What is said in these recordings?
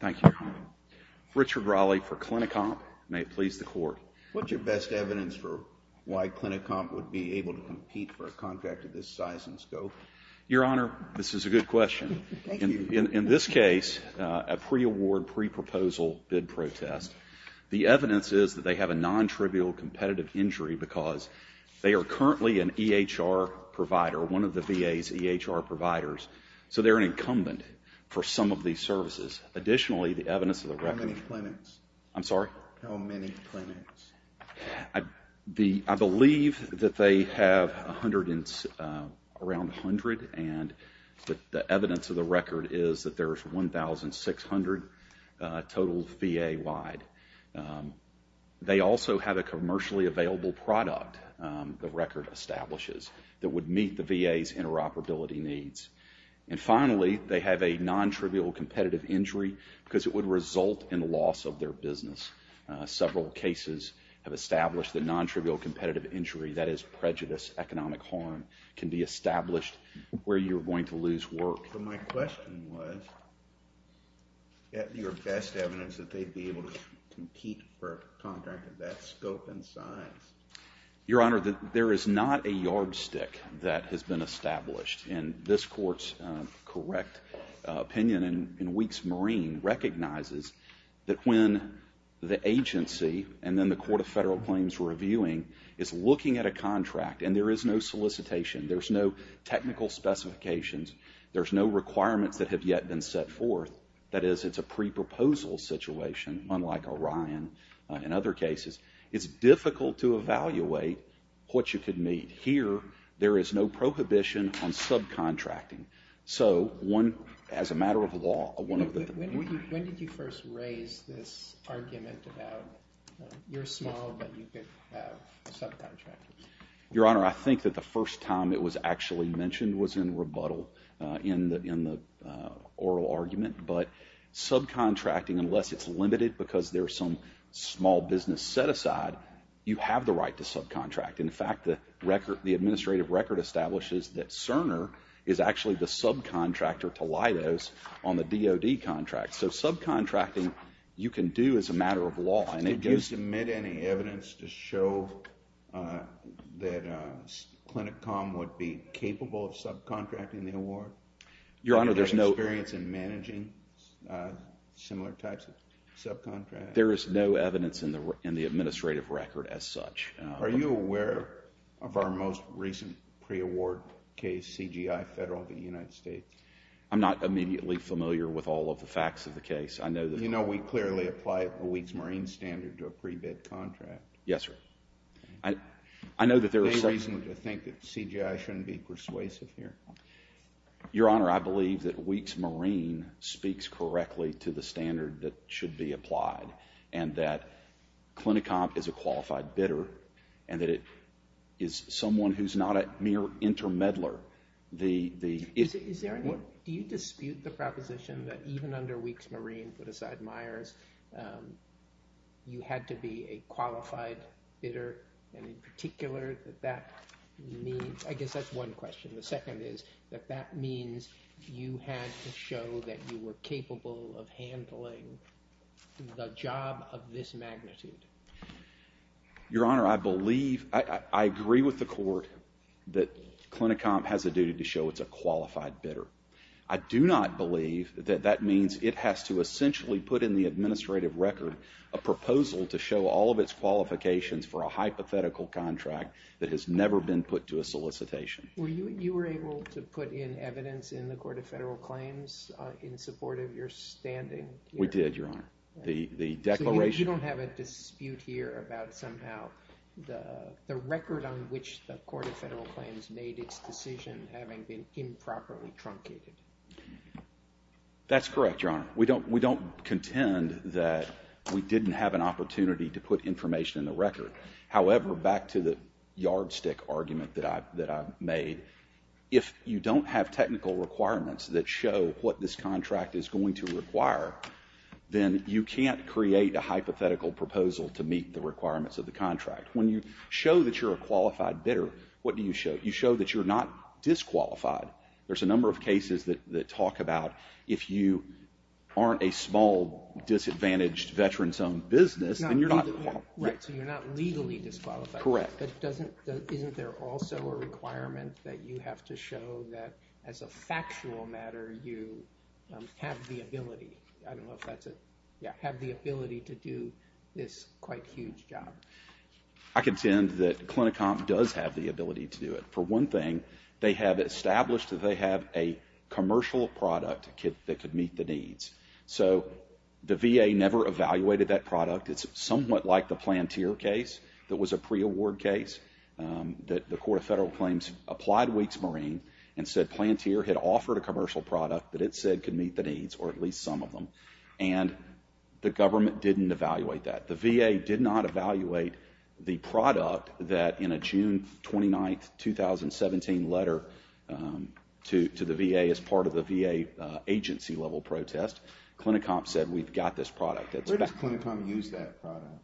Thank you, Your Honor. Richard Raleigh for CliniComp. May it please the Court. What's your best evidence for why CliniComp would be able to compete for a contract of this size and scope? Your Honor, this is a good question. In this case, a pre-award, pre-proposal bid protest, the evidence is that they have a non-trivial competitive injury because they are currently an EHR provider, one of the VA's EHR providers, so they're an incumbent for some of these services. Additionally, the evidence of the record… How many clinics? I'm sorry? How many clinics? I believe that they have around 100, and the evidence of the record is that there's 1,600 total VA-wide. They also have a commercially available product, the record establishes, that would meet the VA's interoperability needs. And finally, they have a non-trivial competitive injury because it would result in loss of their business. Several cases have established that non-trivial competitive injury, that is prejudice, economic harm, can be established where you're going to lose work. So my question was, is that your best evidence that they'd be able to compete for a contract of that scope and size? Your Honor, there is not a yardstick that has been established, and this Court's correct opinion in Weeks Marine recognizes that when the agency and then the Court of Federal Claims reviewing is looking at a contract, and there is no solicitation, there's no technical specifications, there's no requirements that have yet been set forth, that is, it's a pre-proposal situation, unlike Orion. In other cases, it's difficult to evaluate what you could meet. Here, there is no prohibition on subcontracting. So, as a matter of law, one of the things When did you first raise this argument about, you're small, but you could have subcontracting? Your Honor, I think that the first time it was actually mentioned was in rebuttal in the oral argument, but subcontracting, unless it's limited because there's some small business set aside, you have the right to subcontract. In fact, the administrative record establishes that Cerner is actually the subcontractor to Leidos on the DOD contract. So subcontracting, you can do as a matter of law. Did you submit any evidence to show that Clinicom would be capable of subcontracting the award? Your Honor, there's no... Do you have experience in managing similar types of subcontracting? There is no evidence in the administrative record as such. Are you aware of our most recent pre-award case, CGI Federal v. United States? I'm not immediately familiar with all of the facts of the case. I know that... You know we clearly apply a Weeks Marine standard to a pre-bid contract. Yes, sir. I know that there is... Any reason to think that CGI shouldn't be persuasive here? Your Honor, I believe that Weeks Marine speaks correctly to the standard that should be applied and that Clinicom is a qualified bidder and that it is someone who's not a mere intermeddler. Do you dispute the proposition that even under Weeks Marine, put aside Myers, you had to be a qualified bidder and in particular that that means... I guess that's one question. The second is that that means you had to show that you were capable of handling the job of this magnitude. Your Honor, I believe... I agree with the court that Clinicom has a duty to show it's a qualified bidder. I do not believe that that means it has to essentially put in the administrative record a proposal to show all of its qualifications for a hypothetical contract that has never been put to a solicitation. Were you able to put in evidence in the Court of Federal Claims in support of your standing? We did, Your Honor. The declaration... So you don't have a dispute here about somehow the record on which the Court of Federal Claims made its decision having been improperly truncated? That's correct, Your Honor. We don't contend that we didn't have an opportunity to put information in the record. However, back to the yardstick argument that I've made, if you don't have technical requirements that show what this contract is going to require, then you can't create a hypothetical proposal to meet the requirements of the contract. When you show that you're a qualified bidder, what do you show? You show that you're not disqualified. There's a number of cases that talk about if you aren't a small, disadvantaged, veterans-owned business, then you're not qualified. So you're not legally disqualified. Correct. But isn't there also a requirement that you have to show that, as a factual matter, you have the ability to do this quite huge job? I contend that Clinicomp does have the ability to do it. For one thing, they have established that they have a commercial product that could meet the needs. The VA never evaluated that product. It's somewhat like the Planteer case that was a pre-award case. The Court of Federal Claims applied Weeks Marine and said Planteer had offered a commercial product that it said could meet the needs, or at least some of them, and the government didn't evaluate that. The VA did not evaluate the product that, in a June 29, 2017, letter to the VA as part of the VA agency-level protest, Clinicomp said we've got this product. Where does Clinicomp use that product?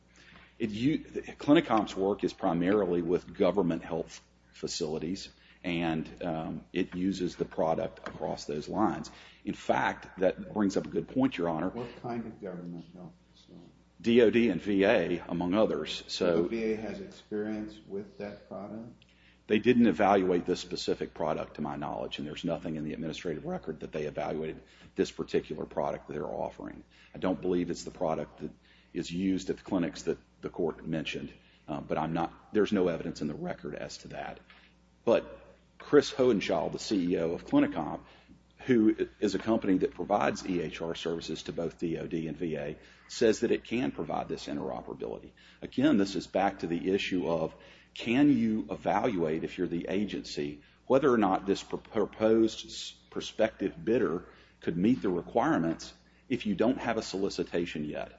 Clinicomp's work is primarily with government health facilities, and it uses the product across those lines. In fact, that brings up a good point, Your Honor. What kind of government health facilities? DoD and VA, among others. Do VA have experience with that product? They didn't evaluate this specific product, to my knowledge, and there's nothing in the administrative record that they evaluated this particular product that they're offering. I don't believe it's the product that is used at the clinics that the Court mentioned, but there's no evidence in the record as to that. But Chris Hohenschaul, the CEO of Clinicomp, who is a company that provides EHR services to both DoD and VA, says that it can provide this interoperability. Again, this is back to the issue of can you evaluate, if you're the agency, whether or not this proposed prospective bidder could meet the requirements if you don't have a solicitation yet?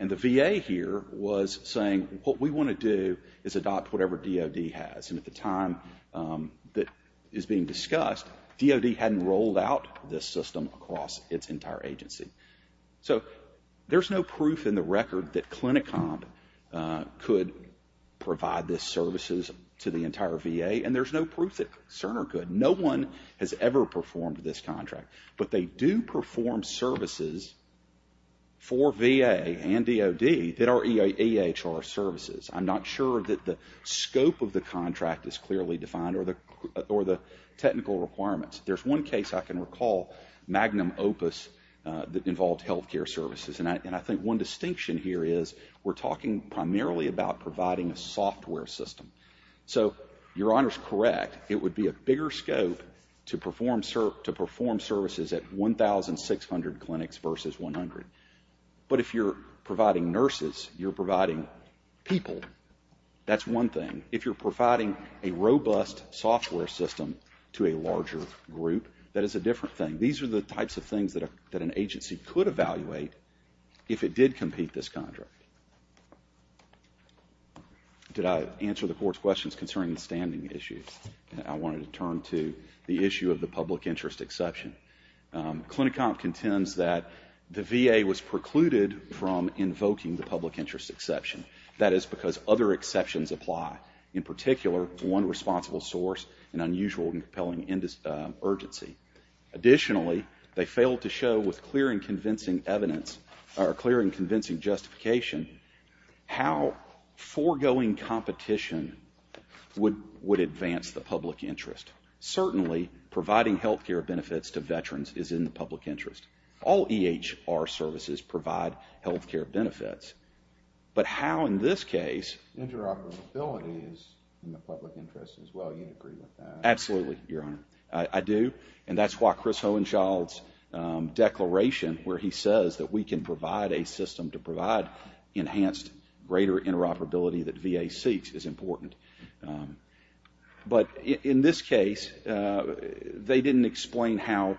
And the VA here was saying what we want to do is adopt whatever DoD has, and at the time that is being discussed, DoD hadn't rolled out this system across its entire agency. So there's no proof in the record that Clinicomp could provide this services to the entire VA, and there's no proof that Cerner could. No one has ever performed this contract, but they do perform services for VA and DoD that are EHR services. I'm not sure that the scope of the contract is clearly defined or the technical requirements. There's one case I can recall, Magnum Opus, that involved health care services, and I think one distinction here is we're talking primarily about providing a software system. So your Honor is correct. It would be a bigger scope to perform services at 1,600 clinics versus 100. But if you're providing nurses, you're providing people, that's one thing. If you're providing a robust software system to a larger group, that is a different thing. These are the types of things that an agency could evaluate if it did compete this contract. Did I answer the Court's questions concerning the standing issues? I wanted to turn to the issue of the public interest exception. Clinicomp contends that the VA was precluded from invoking the public interest exception. That is because other exceptions apply. In particular, one responsible source, an unusual and compelling urgency. Additionally, they failed to show with clear and convincing justification how foregoing competition would advance the public interest. Certainly, providing health care benefits to veterans is in the public interest. All EHR services provide health care benefits. But how in this case... Interoperability is in the public interest as well. You agree with that? Absolutely, Your Honor. I do. And that's why Chris Hohenschild's declaration where he says that we can provide a system to provide enhanced greater interoperability that VA seeks is important. But in this case, they didn't explain how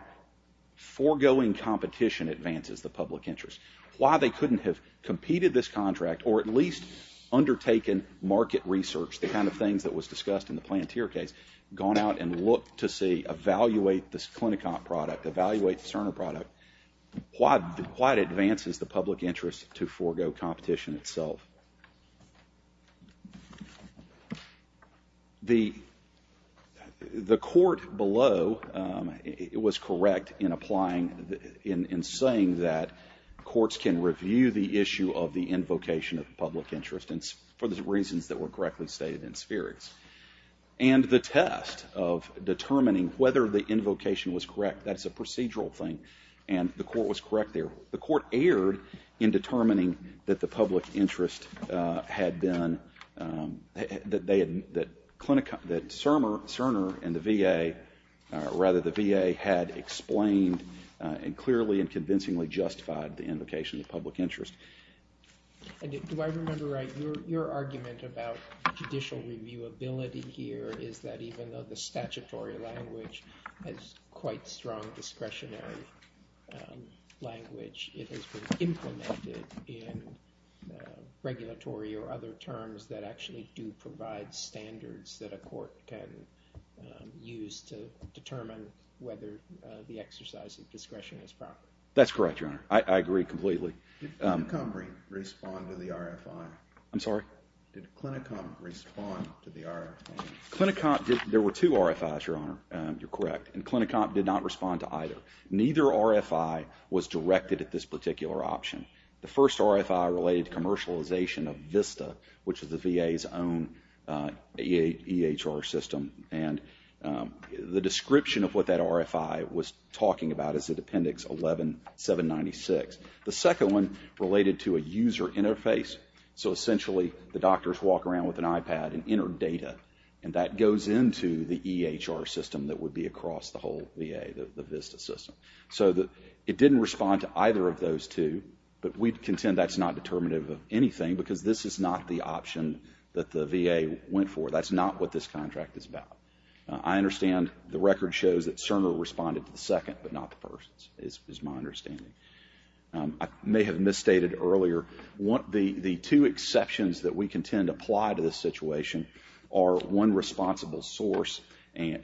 foregoing competition advances the public interest. Why they couldn't have competed this contract or at least undertaken market research, the kind of things that was discussed in the Planteer case, gone out and looked to see, evaluate this Clinicomp product, evaluate the Cerner product, why it advances the public interest to forego competition itself. The court below was correct in saying that courts can review the issue of the invocation of the public interest for the reasons that were correctly stated in spherics. And the test of determining whether the invocation was correct, that's a procedural thing, and the court was correct there. The court erred in determining that the public interest had been... that Cerner and the VA, or rather the VA, had explained and clearly and convincingly justified the invocation of the public interest. Do I remember right, your argument about judicial reviewability here is that even though the statutory language has quite strong discretionary language, it has been implemented in regulatory or other terms that actually do provide standards that a court can use to determine whether the exercise of discretion is proper. That's correct, your Honor. I agree completely. Did Clinicomp respond to the RFI? I'm sorry? Did Clinicomp respond to the RFI? Clinicomp did. There were two RFIs, your Honor. You're correct. And Clinicomp did not respond to either. Neither RFI was directed at this particular option. The first RFI related to commercialization of VISTA, which is the VA's own EHR system, and the description of what that RFI was talking about is in Appendix 11-796. The second one related to a user interface. So essentially, the doctors walk around with an iPad and enter data, and that goes into the EHR system that would be across the whole VA, the VISTA system. So it didn't respond to either of those two, but we contend that's not determinative of anything because this is not the option that the VA went for. That's not what this contract is about. I understand the record shows that Cerner responded to the second, but not the first, is my understanding. I may have misstated earlier. The two exceptions that we contend apply to this situation are one responsible source,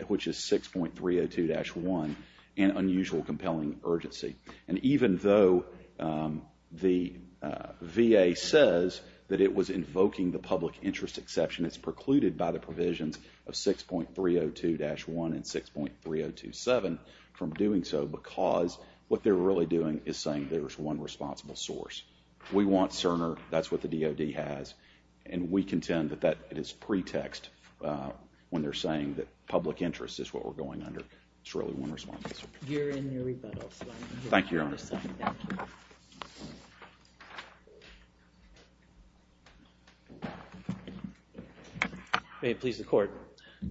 which is 6.302-1, and unusual compelling urgency. And even though the VA says that it was invoking the public interest exception, it's precluded by the provisions of 6.302-1 and 6.302-7 from doing so because what they're really doing is saying there's one responsible source. We want Cerner. That's what the DOD has. And we contend that that is pretext when they're saying that public interest is what we're going under. It's really one responsible source. You're in your rebuttal, so I'm going to move on to the second. Thank you, Your Honor. Thank you. May it please the Court.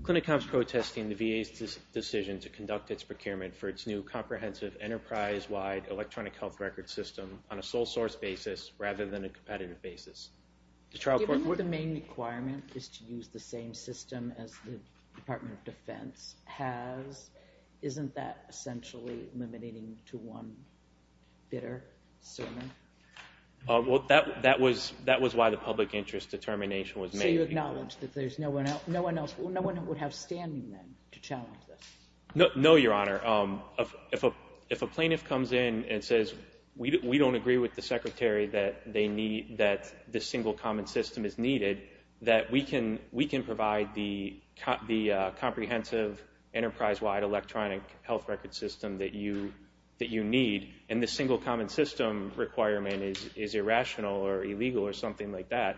Clinic Health is protesting the VA's decision to conduct its procurement for its new comprehensive enterprise-wide electronic health record system on a sole source basis rather than a competitive basis. Given that the main requirement is to use the same system as the Department of Defense has, isn't that essentially limiting to one bitter sermon? So you acknowledge that no one else would have standing then to challenge this? No, Your Honor. If a plaintiff comes in and says, we don't agree with the Secretary that this single common system is needed, that we can provide the comprehensive enterprise-wide electronic health record system that you need, and the single common system requirement is irrational or illegal or something like that,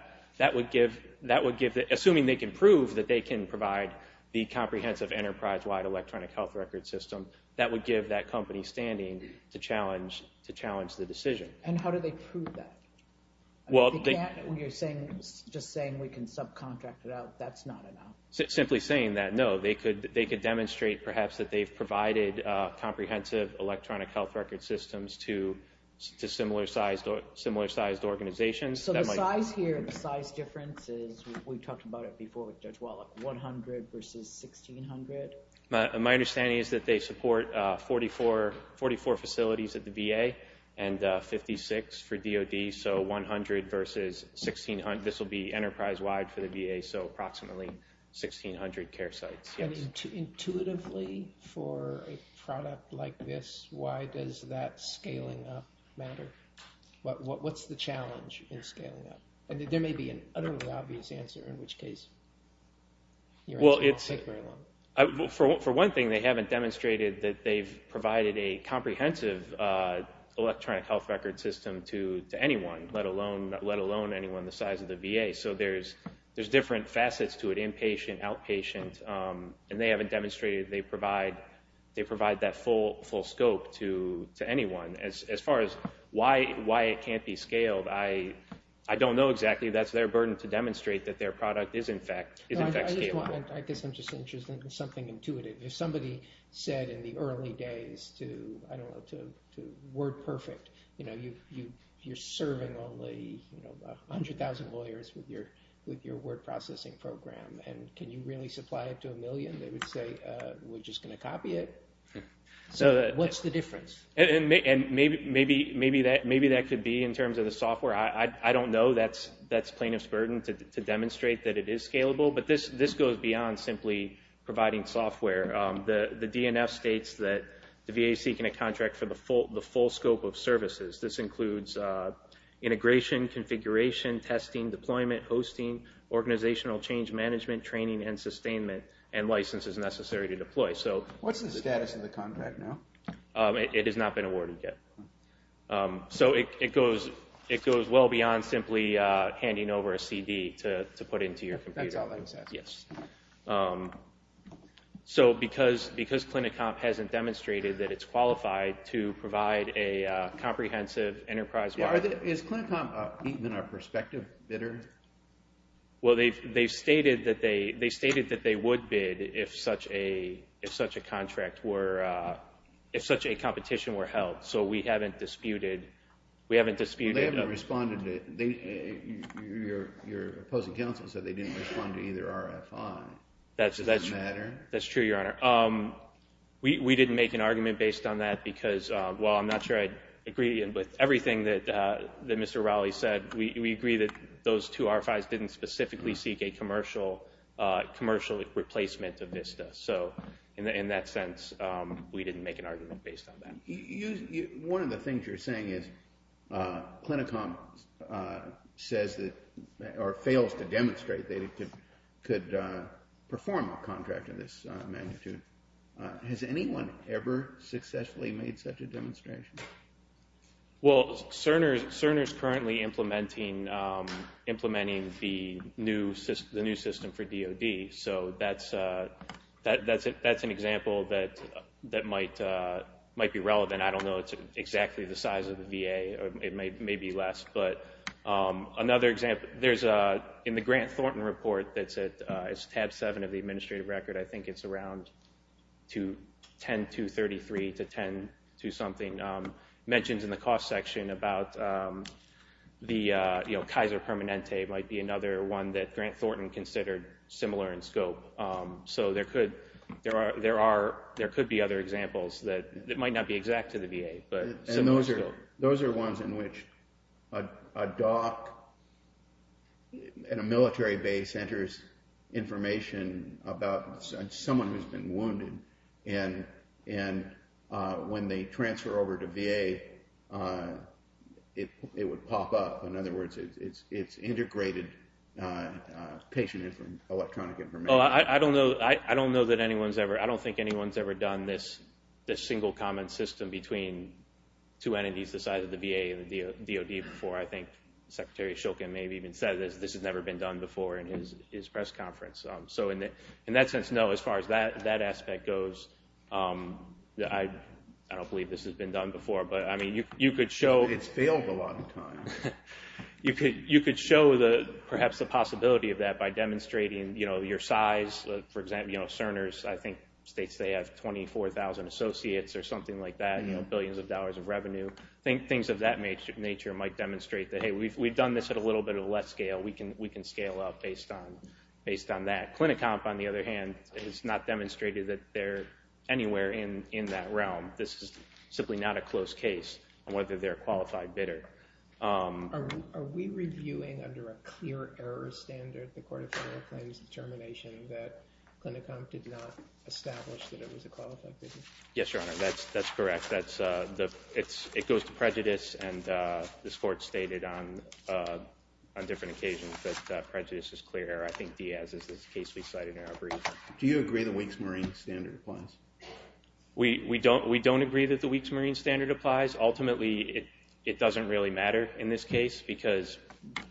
assuming they can prove that they can provide the comprehensive enterprise-wide electronic health record system, that would give that company standing to challenge the decision. And how do they prove that? You're just saying we can subcontract it out. That's not enough. Simply saying that, no. They could demonstrate perhaps that they've provided comprehensive electronic health record systems to similar-sized organizations. So the size here, the size difference is, we talked about it before with Judge Wallach, 100 versus 1,600? My understanding is that they support 44 facilities at the VA and 56 for DOD, so 100 versus 1,600. This will be enterprise-wide for the VA, so approximately 1,600 care sites. Intuitively, for a product like this, why does that scaling up matter? What's the challenge in scaling up? There may be an utterly obvious answer, in which case it won't take very long. For one thing, they haven't demonstrated that they've provided a comprehensive electronic health record system to anyone, let alone anyone the size of the VA. So there's different facets to it, inpatient, outpatient, and they haven't demonstrated they provide that full scope to anyone. As far as why it can't be scaled, I don't know exactly. That's their burden to demonstrate that their product is in fact scalable. I guess I'm just interested in something intuitive. If somebody said in the early days to WordPerfect, you're serving only 100,000 lawyers with your word processing program, and can you really supply it to a million? They would say, we're just going to copy it. What's the difference? Maybe that could be in terms of the software. I don't know. That's plaintiff's burden to demonstrate that it is scalable. But this goes beyond simply providing software. The DNF states that the VA is seeking a contract for the full scope of services. This includes integration, configuration, testing, deployment, hosting, organizational change management, training, and sustainment, and licenses necessary to deploy. What's the status of the contract now? It has not been awarded yet. It goes well beyond simply handing over a CD to put into your computer. That's all that was asked for? Yes. Because Clinicomp hasn't demonstrated that it's qualified to provide a comprehensive enterprise-wide. Is Clinicomp even a prospective bidder? Well, they stated that they would bid if such a competition were held. So we haven't disputed. They haven't responded. Your opposing counsel said they didn't respond to either RFI. Does that matter? That's true, Your Honor. We didn't make an argument based on that because, well, I'm not sure I'd agree with everything that Mr. Rowley said. But we agree that those two RFIs didn't specifically seek a commercial replacement of VISTA. So in that sense, we didn't make an argument based on that. One of the things you're saying is Clinicomp fails to demonstrate they could perform a contract of this magnitude. Has anyone ever successfully made such a demonstration? Well, Cerner is currently implementing the new system for DOD. So that's an example that might be relevant. I don't know exactly the size of the VA. It may be less. In the Grant Thornton report, it's tab 7 of the administrative record. I think it's around 10233 to 10-something. It mentions in the cost section about Kaiser Permanente might be another one that Grant Thornton considered similar in scope. So there could be other examples that might not be exact to the VA. Those are ones in which a doc at a military base enters information about someone who's been wounded. And when they transfer over to VA, it would pop up. In other words, it's integrated patient information, electronic information. I don't think anyone's ever done this single comment system between two entities the size of the VA and the DOD before. I think Secretary Shulkin may have even said this. This has never been done before in his press conference. So in that sense, no. As far as that aspect goes, I don't believe this has been done before. It's failed a lot of times. You could show perhaps the possibility of that by demonstrating your size. For example, Cerner's, I think, states they have 24,000 associates or something like that, billions of dollars of revenue. Things of that nature might demonstrate that, hey, we've done this at a little bit of a less scale. We can scale up based on that. Clinicomp, on the other hand, has not demonstrated that they're anywhere in that realm. This is simply not a close case on whether they're a qualified bidder. Are we reviewing under a clear error standard the Court of Federal Claims determination that Clinicomp did not establish that it was a qualified bidder? Yes, Your Honor. That's correct. It goes to prejudice, and this Court stated on different occasions that prejudice is clear error. I think Diaz's is the case we cited in our brief. Do you agree the Winks-Marine standard applies? We don't agree that the Winks-Marine standard applies. Ultimately, it doesn't really matter in this case because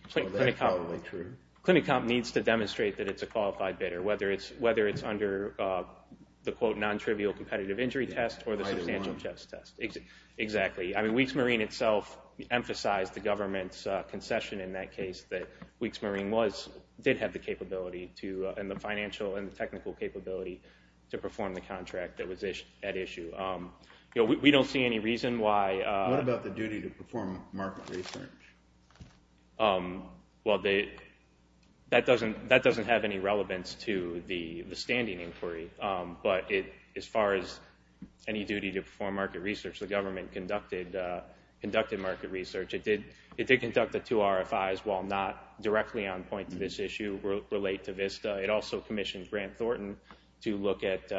Clinicomp needs to demonstrate that it's a qualified bidder, whether it's under the, quote, non-trivial competitive injury test or the substantial test. Exactly. I mean, Winks-Marine itself emphasized the government's concession in that case, that Winks-Marine did have the capability and the financial and technical capability to perform the contract that was at issue. We don't see any reason why— What about the duty to perform market research? Well, that doesn't have any relevance to the standing inquiry, but as far as any duty to perform market research, the government conducted market research. It did conduct the two RFIs, while not directly on point to this issue relate to VISTA. It also commissioned Grant Thornton to look at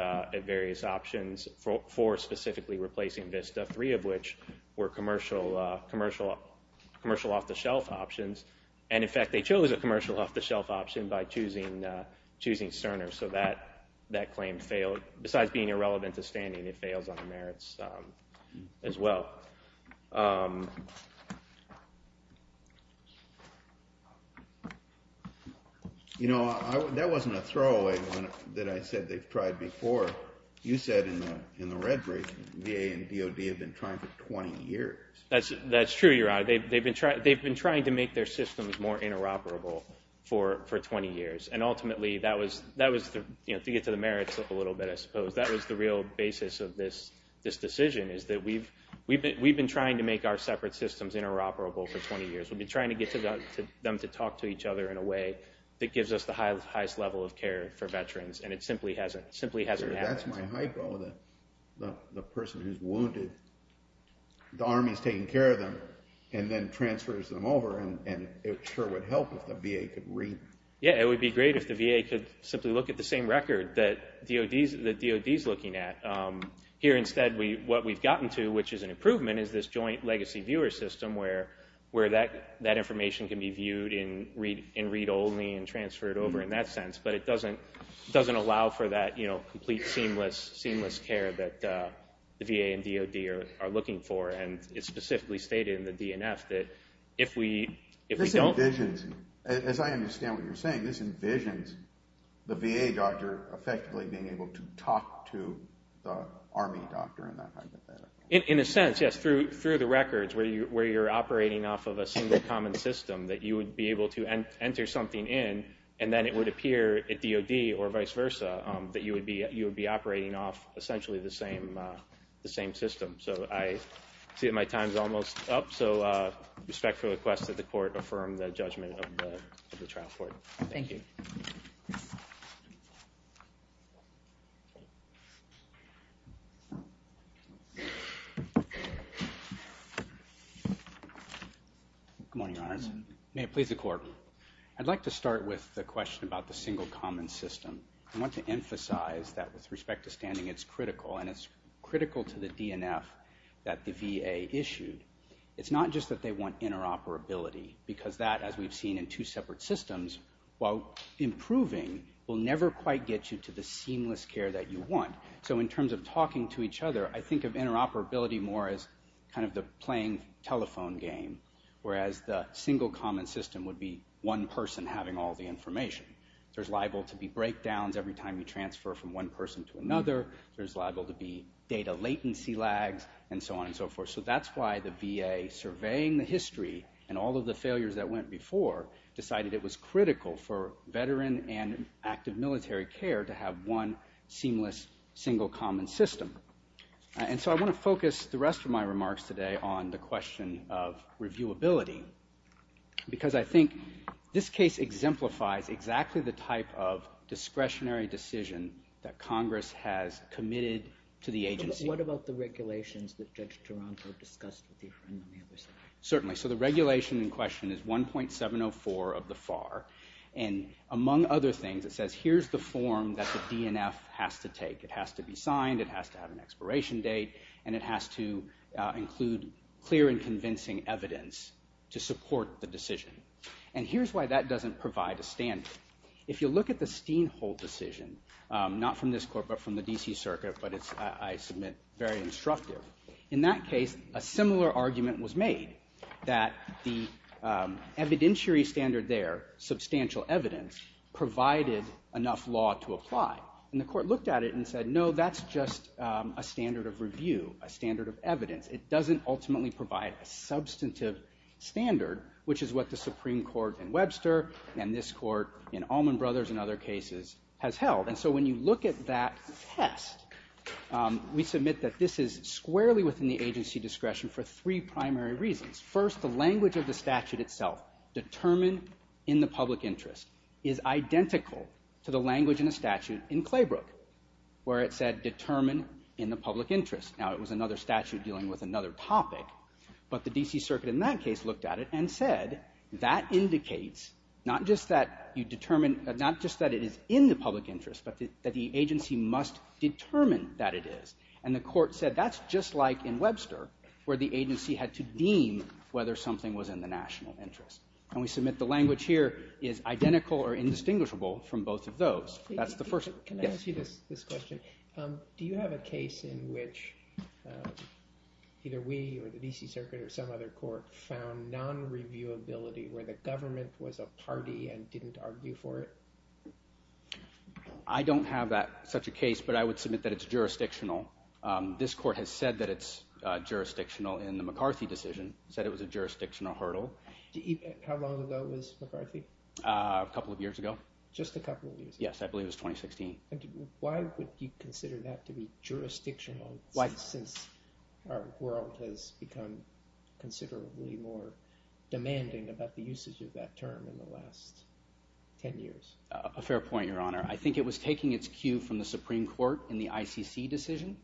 various options for specifically replacing VISTA, three of which were commercial off-the-shelf options. And, in fact, they chose a commercial off-the-shelf option by choosing Cerner, so that claim failed. But besides being irrelevant to standing, it fails on the merits as well. You know, that wasn't a throwaway that I said they've tried before. You said in the red brief VA and DOD have been trying for 20 years. That's true, Your Honor. They've been trying to make their systems more interoperable for 20 years, and ultimately that was—to get to the merits a little bit, I suppose—that was the real basis of this decision, is that we've been trying to make our separate systems interoperable for 20 years. We've been trying to get them to talk to each other in a way that gives us the highest level of care for veterans, and it simply hasn't happened. That's my hypo, the person who's wounded. The Army's taking care of them and then transfers them over, and it sure would help if the VA could read. Yeah, it would be great if the VA could simply look at the same record that DOD's looking at. Here, instead, what we've gotten to, which is an improvement, is this joint legacy viewer system where that information can be viewed in read-only and transferred over in that sense, but it doesn't allow for that complete seamless care that the VA and DOD are looking for, and it's specifically stated in the DNF that if we don't— as I understand what you're saying, this envisions the VA doctor effectively being able to talk to the Army doctor. In a sense, yes, through the records where you're operating off of a single common system that you would be able to enter something in, and then it would appear at DOD or vice versa that you would be operating off essentially the same system. So I see that my time's almost up, so I respectfully request that the Court affirm the judgment of the trial court. Thank you. Good morning, Your Honors. May it please the Court. I'd like to start with the question about the single common system. I want to emphasize that with respect to standing, it's critical, and it's critical to the DNF that the VA issued. It's not just that they want interoperability, because that, as we've seen in two separate systems, while improving will never quite get you to the seamless care that you want. So in terms of talking to each other, I think of interoperability more as kind of the playing telephone game, whereas the single common system would be one person having all the information. There's liable to be breakdowns every time you transfer from one person to another. There's liable to be data latency lags, and so on and so forth. So that's why the VA, surveying the history and all of the failures that went before, decided it was critical for veteran and active military care to have one seamless single common system. And so I want to focus the rest of my remarks today on the question of reviewability, because I think this case exemplifies exactly the type of discretionary decision that Congress has committed to the agency. What about the regulations that Judge Toronto discussed with you? Certainly. So the regulation in question is 1.704 of the FAR. And among other things, it says here's the form that the DNF has to take. It has to be signed, it has to have an expiration date, and it has to include clear and convincing evidence to support the decision. And here's why that doesn't provide a standard. If you look at the Steenhold decision, not from this court but from the D.C. Circuit, but it's, I submit, very instructive. In that case, a similar argument was made that the evidentiary standard there, substantial evidence, provided enough law to apply. And the court looked at it and said, no, that's just a standard of review, a standard of evidence. It doesn't ultimately provide a substantive standard, which is what the Supreme Court in Webster and this court in Allman Brothers and other cases has held. And so when you look at that test, we submit that this is squarely within the agency discretion for three primary reasons. First, the language of the statute itself, determined in the public interest, is identical to the language in the statute in Claybrook where it said, determine in the public interest. Now, it was another statute dealing with another topic, but the D.C. Circuit in that case looked at it and said, that indicates not just that you determine, not just that it is in the public interest, but that the agency must determine that it is. And the court said that's just like in Webster where the agency had to deem whether something was in the national interest. And we submit the language here is identical or indistinguishable from both of those. Can I ask you this question? Do you have a case in which either we or the D.C. Circuit or some other court found non-reviewability where the government was a party and didn't argue for it? I don't have such a case, but I would submit that it's jurisdictional. This court has said that it's jurisdictional in the McCarthy decision, said it was a jurisdictional hurdle. How long ago was McCarthy? A couple of years ago. Just a couple of years ago? Yes, I believe it was 2016. Why would you consider that to be jurisdictional since our world has become considerably more demanding about the usage of that term in the last ten years? A fair point, Your Honor. I think it was taking its cue from the Supreme Court in the ICC decision,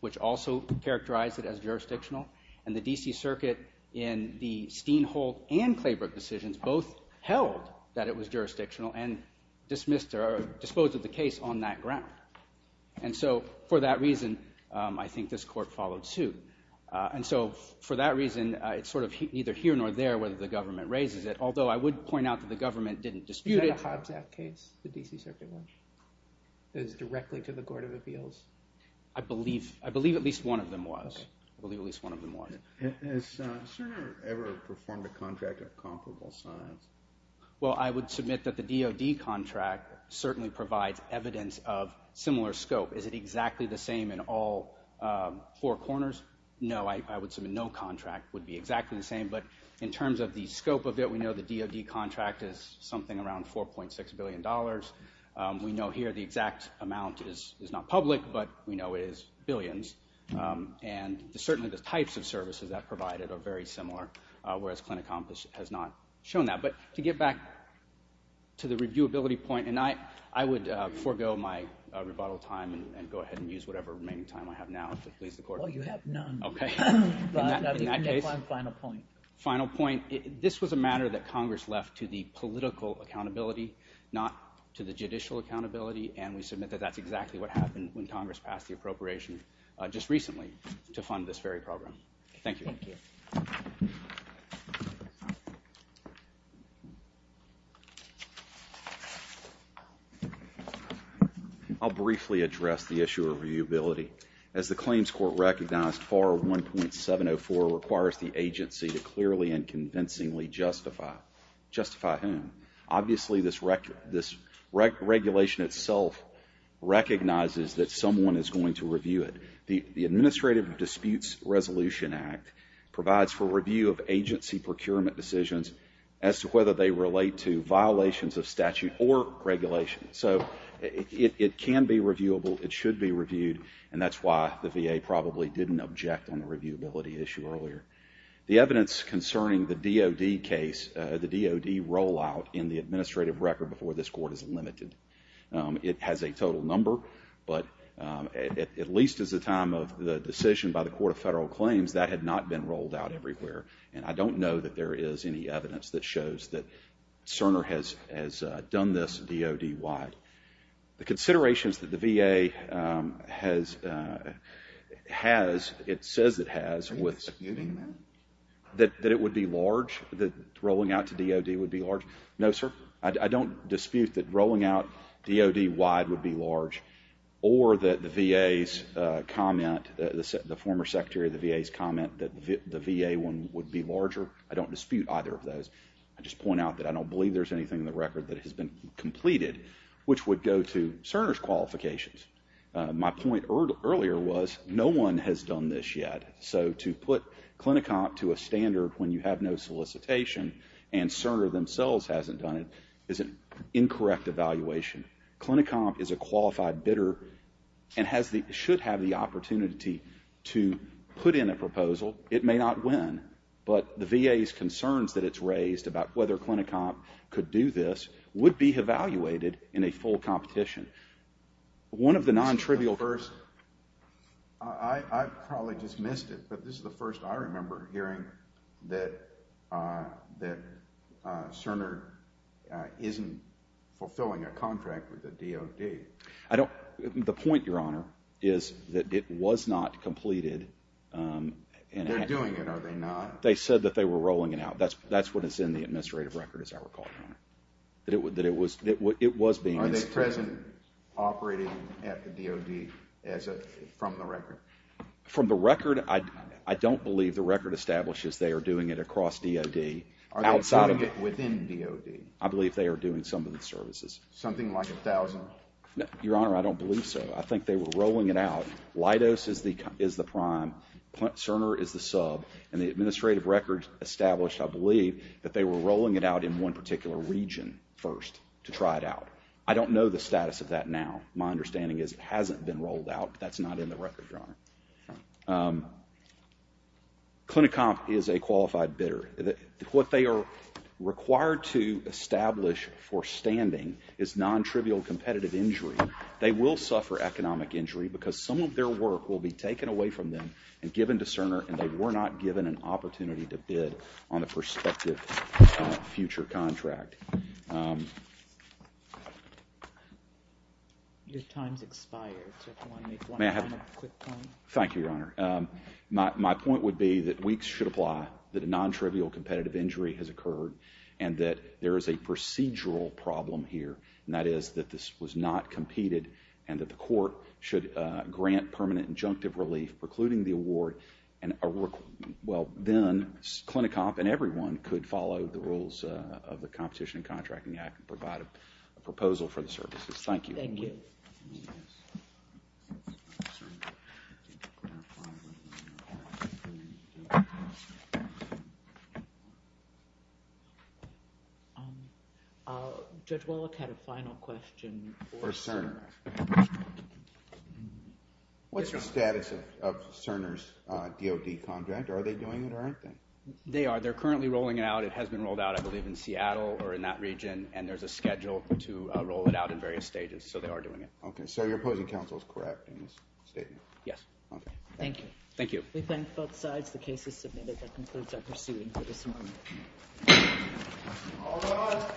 which also characterized it as jurisdictional, and the D.C. Circuit in the Steenholt and Claybrook decisions both held that it was jurisdictional and disposed of the case on that ground. And so for that reason, I think this court followed suit. And so for that reason, it's sort of neither here nor there whether the government raises it, although I would point out that the government didn't dispute it. And the Hobbs Act case, the D.C. Circuit one, goes directly to the Court of Appeals? I believe at least one of them was. Okay. I believe at least one of them was. Has Sir ever performed a contract of comparable signs? Well, I would submit that the DOD contract certainly provides evidence of similar scope. Is it exactly the same in all four corners? No, I would submit no contract would be exactly the same. But in terms of the scope of it, we know the DOD contract is something around $4.6 billion. We know here the exact amount is not public, but we know it is billions. And certainly the types of services that are provided are very similar, whereas Clinicom has not shown that. But to get back to the reviewability point, and I would forego my rebuttal time and go ahead and use whatever remaining time I have now to please the Court. Well, you have none. Okay. Final point. Final point. This was a matter that Congress left to the political accountability, not to the judicial accountability, and we submit that that's exactly what happened when Congress passed the appropriation just recently to fund this very program. Thank you. Thank you. I'll briefly address the issue of reviewability. As the Claims Court recognized, FAR 1.704 requires the agency to clearly and convincingly justify. Justify whom? Obviously, this regulation itself recognizes that someone is going to review it. The Administrative Disputes Resolution Act provides for review of agency procurement decisions as to whether they relate to violations of statute or regulation. So, it can be reviewable. It should be reviewed, and that's why the VA probably didn't object on the reviewability issue earlier. The evidence concerning the DOD case, the DOD rollout in the administrative record before this Court is limited. It has a total number, but at least at the time of the decision by the Court of Federal Claims, that had not been rolled out everywhere. And I don't know that there is any evidence that shows that Cerner has done this DOD-wide. The considerations that the VA has, it says it has with… Are you disputing that? That it would be large? That rolling out to DOD would be large? No, sir. I don't dispute that rolling out DOD-wide would be large or that the VA's comment, the former Secretary of the VA's comment that the VA one would be larger. I don't dispute either of those. I just point out that I don't believe there's anything in the record that has been completed which would go to Cerner's qualifications. My point earlier was no one has done this yet. So, to put Clinicomp to a standard when you have no solicitation and Cerner themselves hasn't done it is an incorrect evaluation. Clinicomp is a qualified bidder and should have the opportunity to put in a proposal. It may not win, but the VA's concerns that it's raised about whether Clinicomp could do this would be evaluated in a full competition. One of the non-trivial… I probably just missed it, but this is the first I remember hearing that Cerner isn't fulfilling a contract with the DOD. The point, Your Honor, is that it was not completed. They're doing it, are they not? They said that they were rolling it out. That's what is in the administrative record, as I recall, Your Honor. Are they present operating at the DOD from the record? From the record, I don't believe the record establishes they are doing it across DOD. Are they doing it within DOD? I believe they are doing some of the services. Something like 1,000? Your Honor, I don't believe so. I think they were rolling it out. Leidos is the prime. Cerner is the sub. And the administrative record established, I believe, that they were rolling it out in one particular region first to try it out. I don't know the status of that now. My understanding is it hasn't been rolled out. That's not in the record, Your Honor. Clinicomp is a qualified bidder. What they are required to establish for standing is non-trivial competitive injury. They will suffer economic injury because some of their work will be taken away from them and given to Cerner, and they were not given an opportunity to bid on a prospective future contract. Your time has expired, so if you want to make one quick point. Thank you, Your Honor. My point would be that weeks should apply, that a non-trivial competitive injury has occurred, and that there is a procedural problem here, and that is that this was not competed and that the court should grant permanent injunctive relief precluding the award, and then Clinicomp and everyone could follow the rules of the Competition and Contracting Act and provide a proposal for the services. Thank you. Thank you. Judge Wellick had a final question for Cerner. What's the status of Cerner's DOD contract? Are they doing it or aren't they? They are. They're currently rolling it out. It has been rolled out, I believe, in Seattle or in that region, and there's a schedule to roll it out in various stages, so they are doing it. Okay. So your opposing counsel is correct in this statement? Yes. Okay. Thank you. Thank you. We thank both sides. The case is submitted. That concludes our proceeding for this morning. All rise.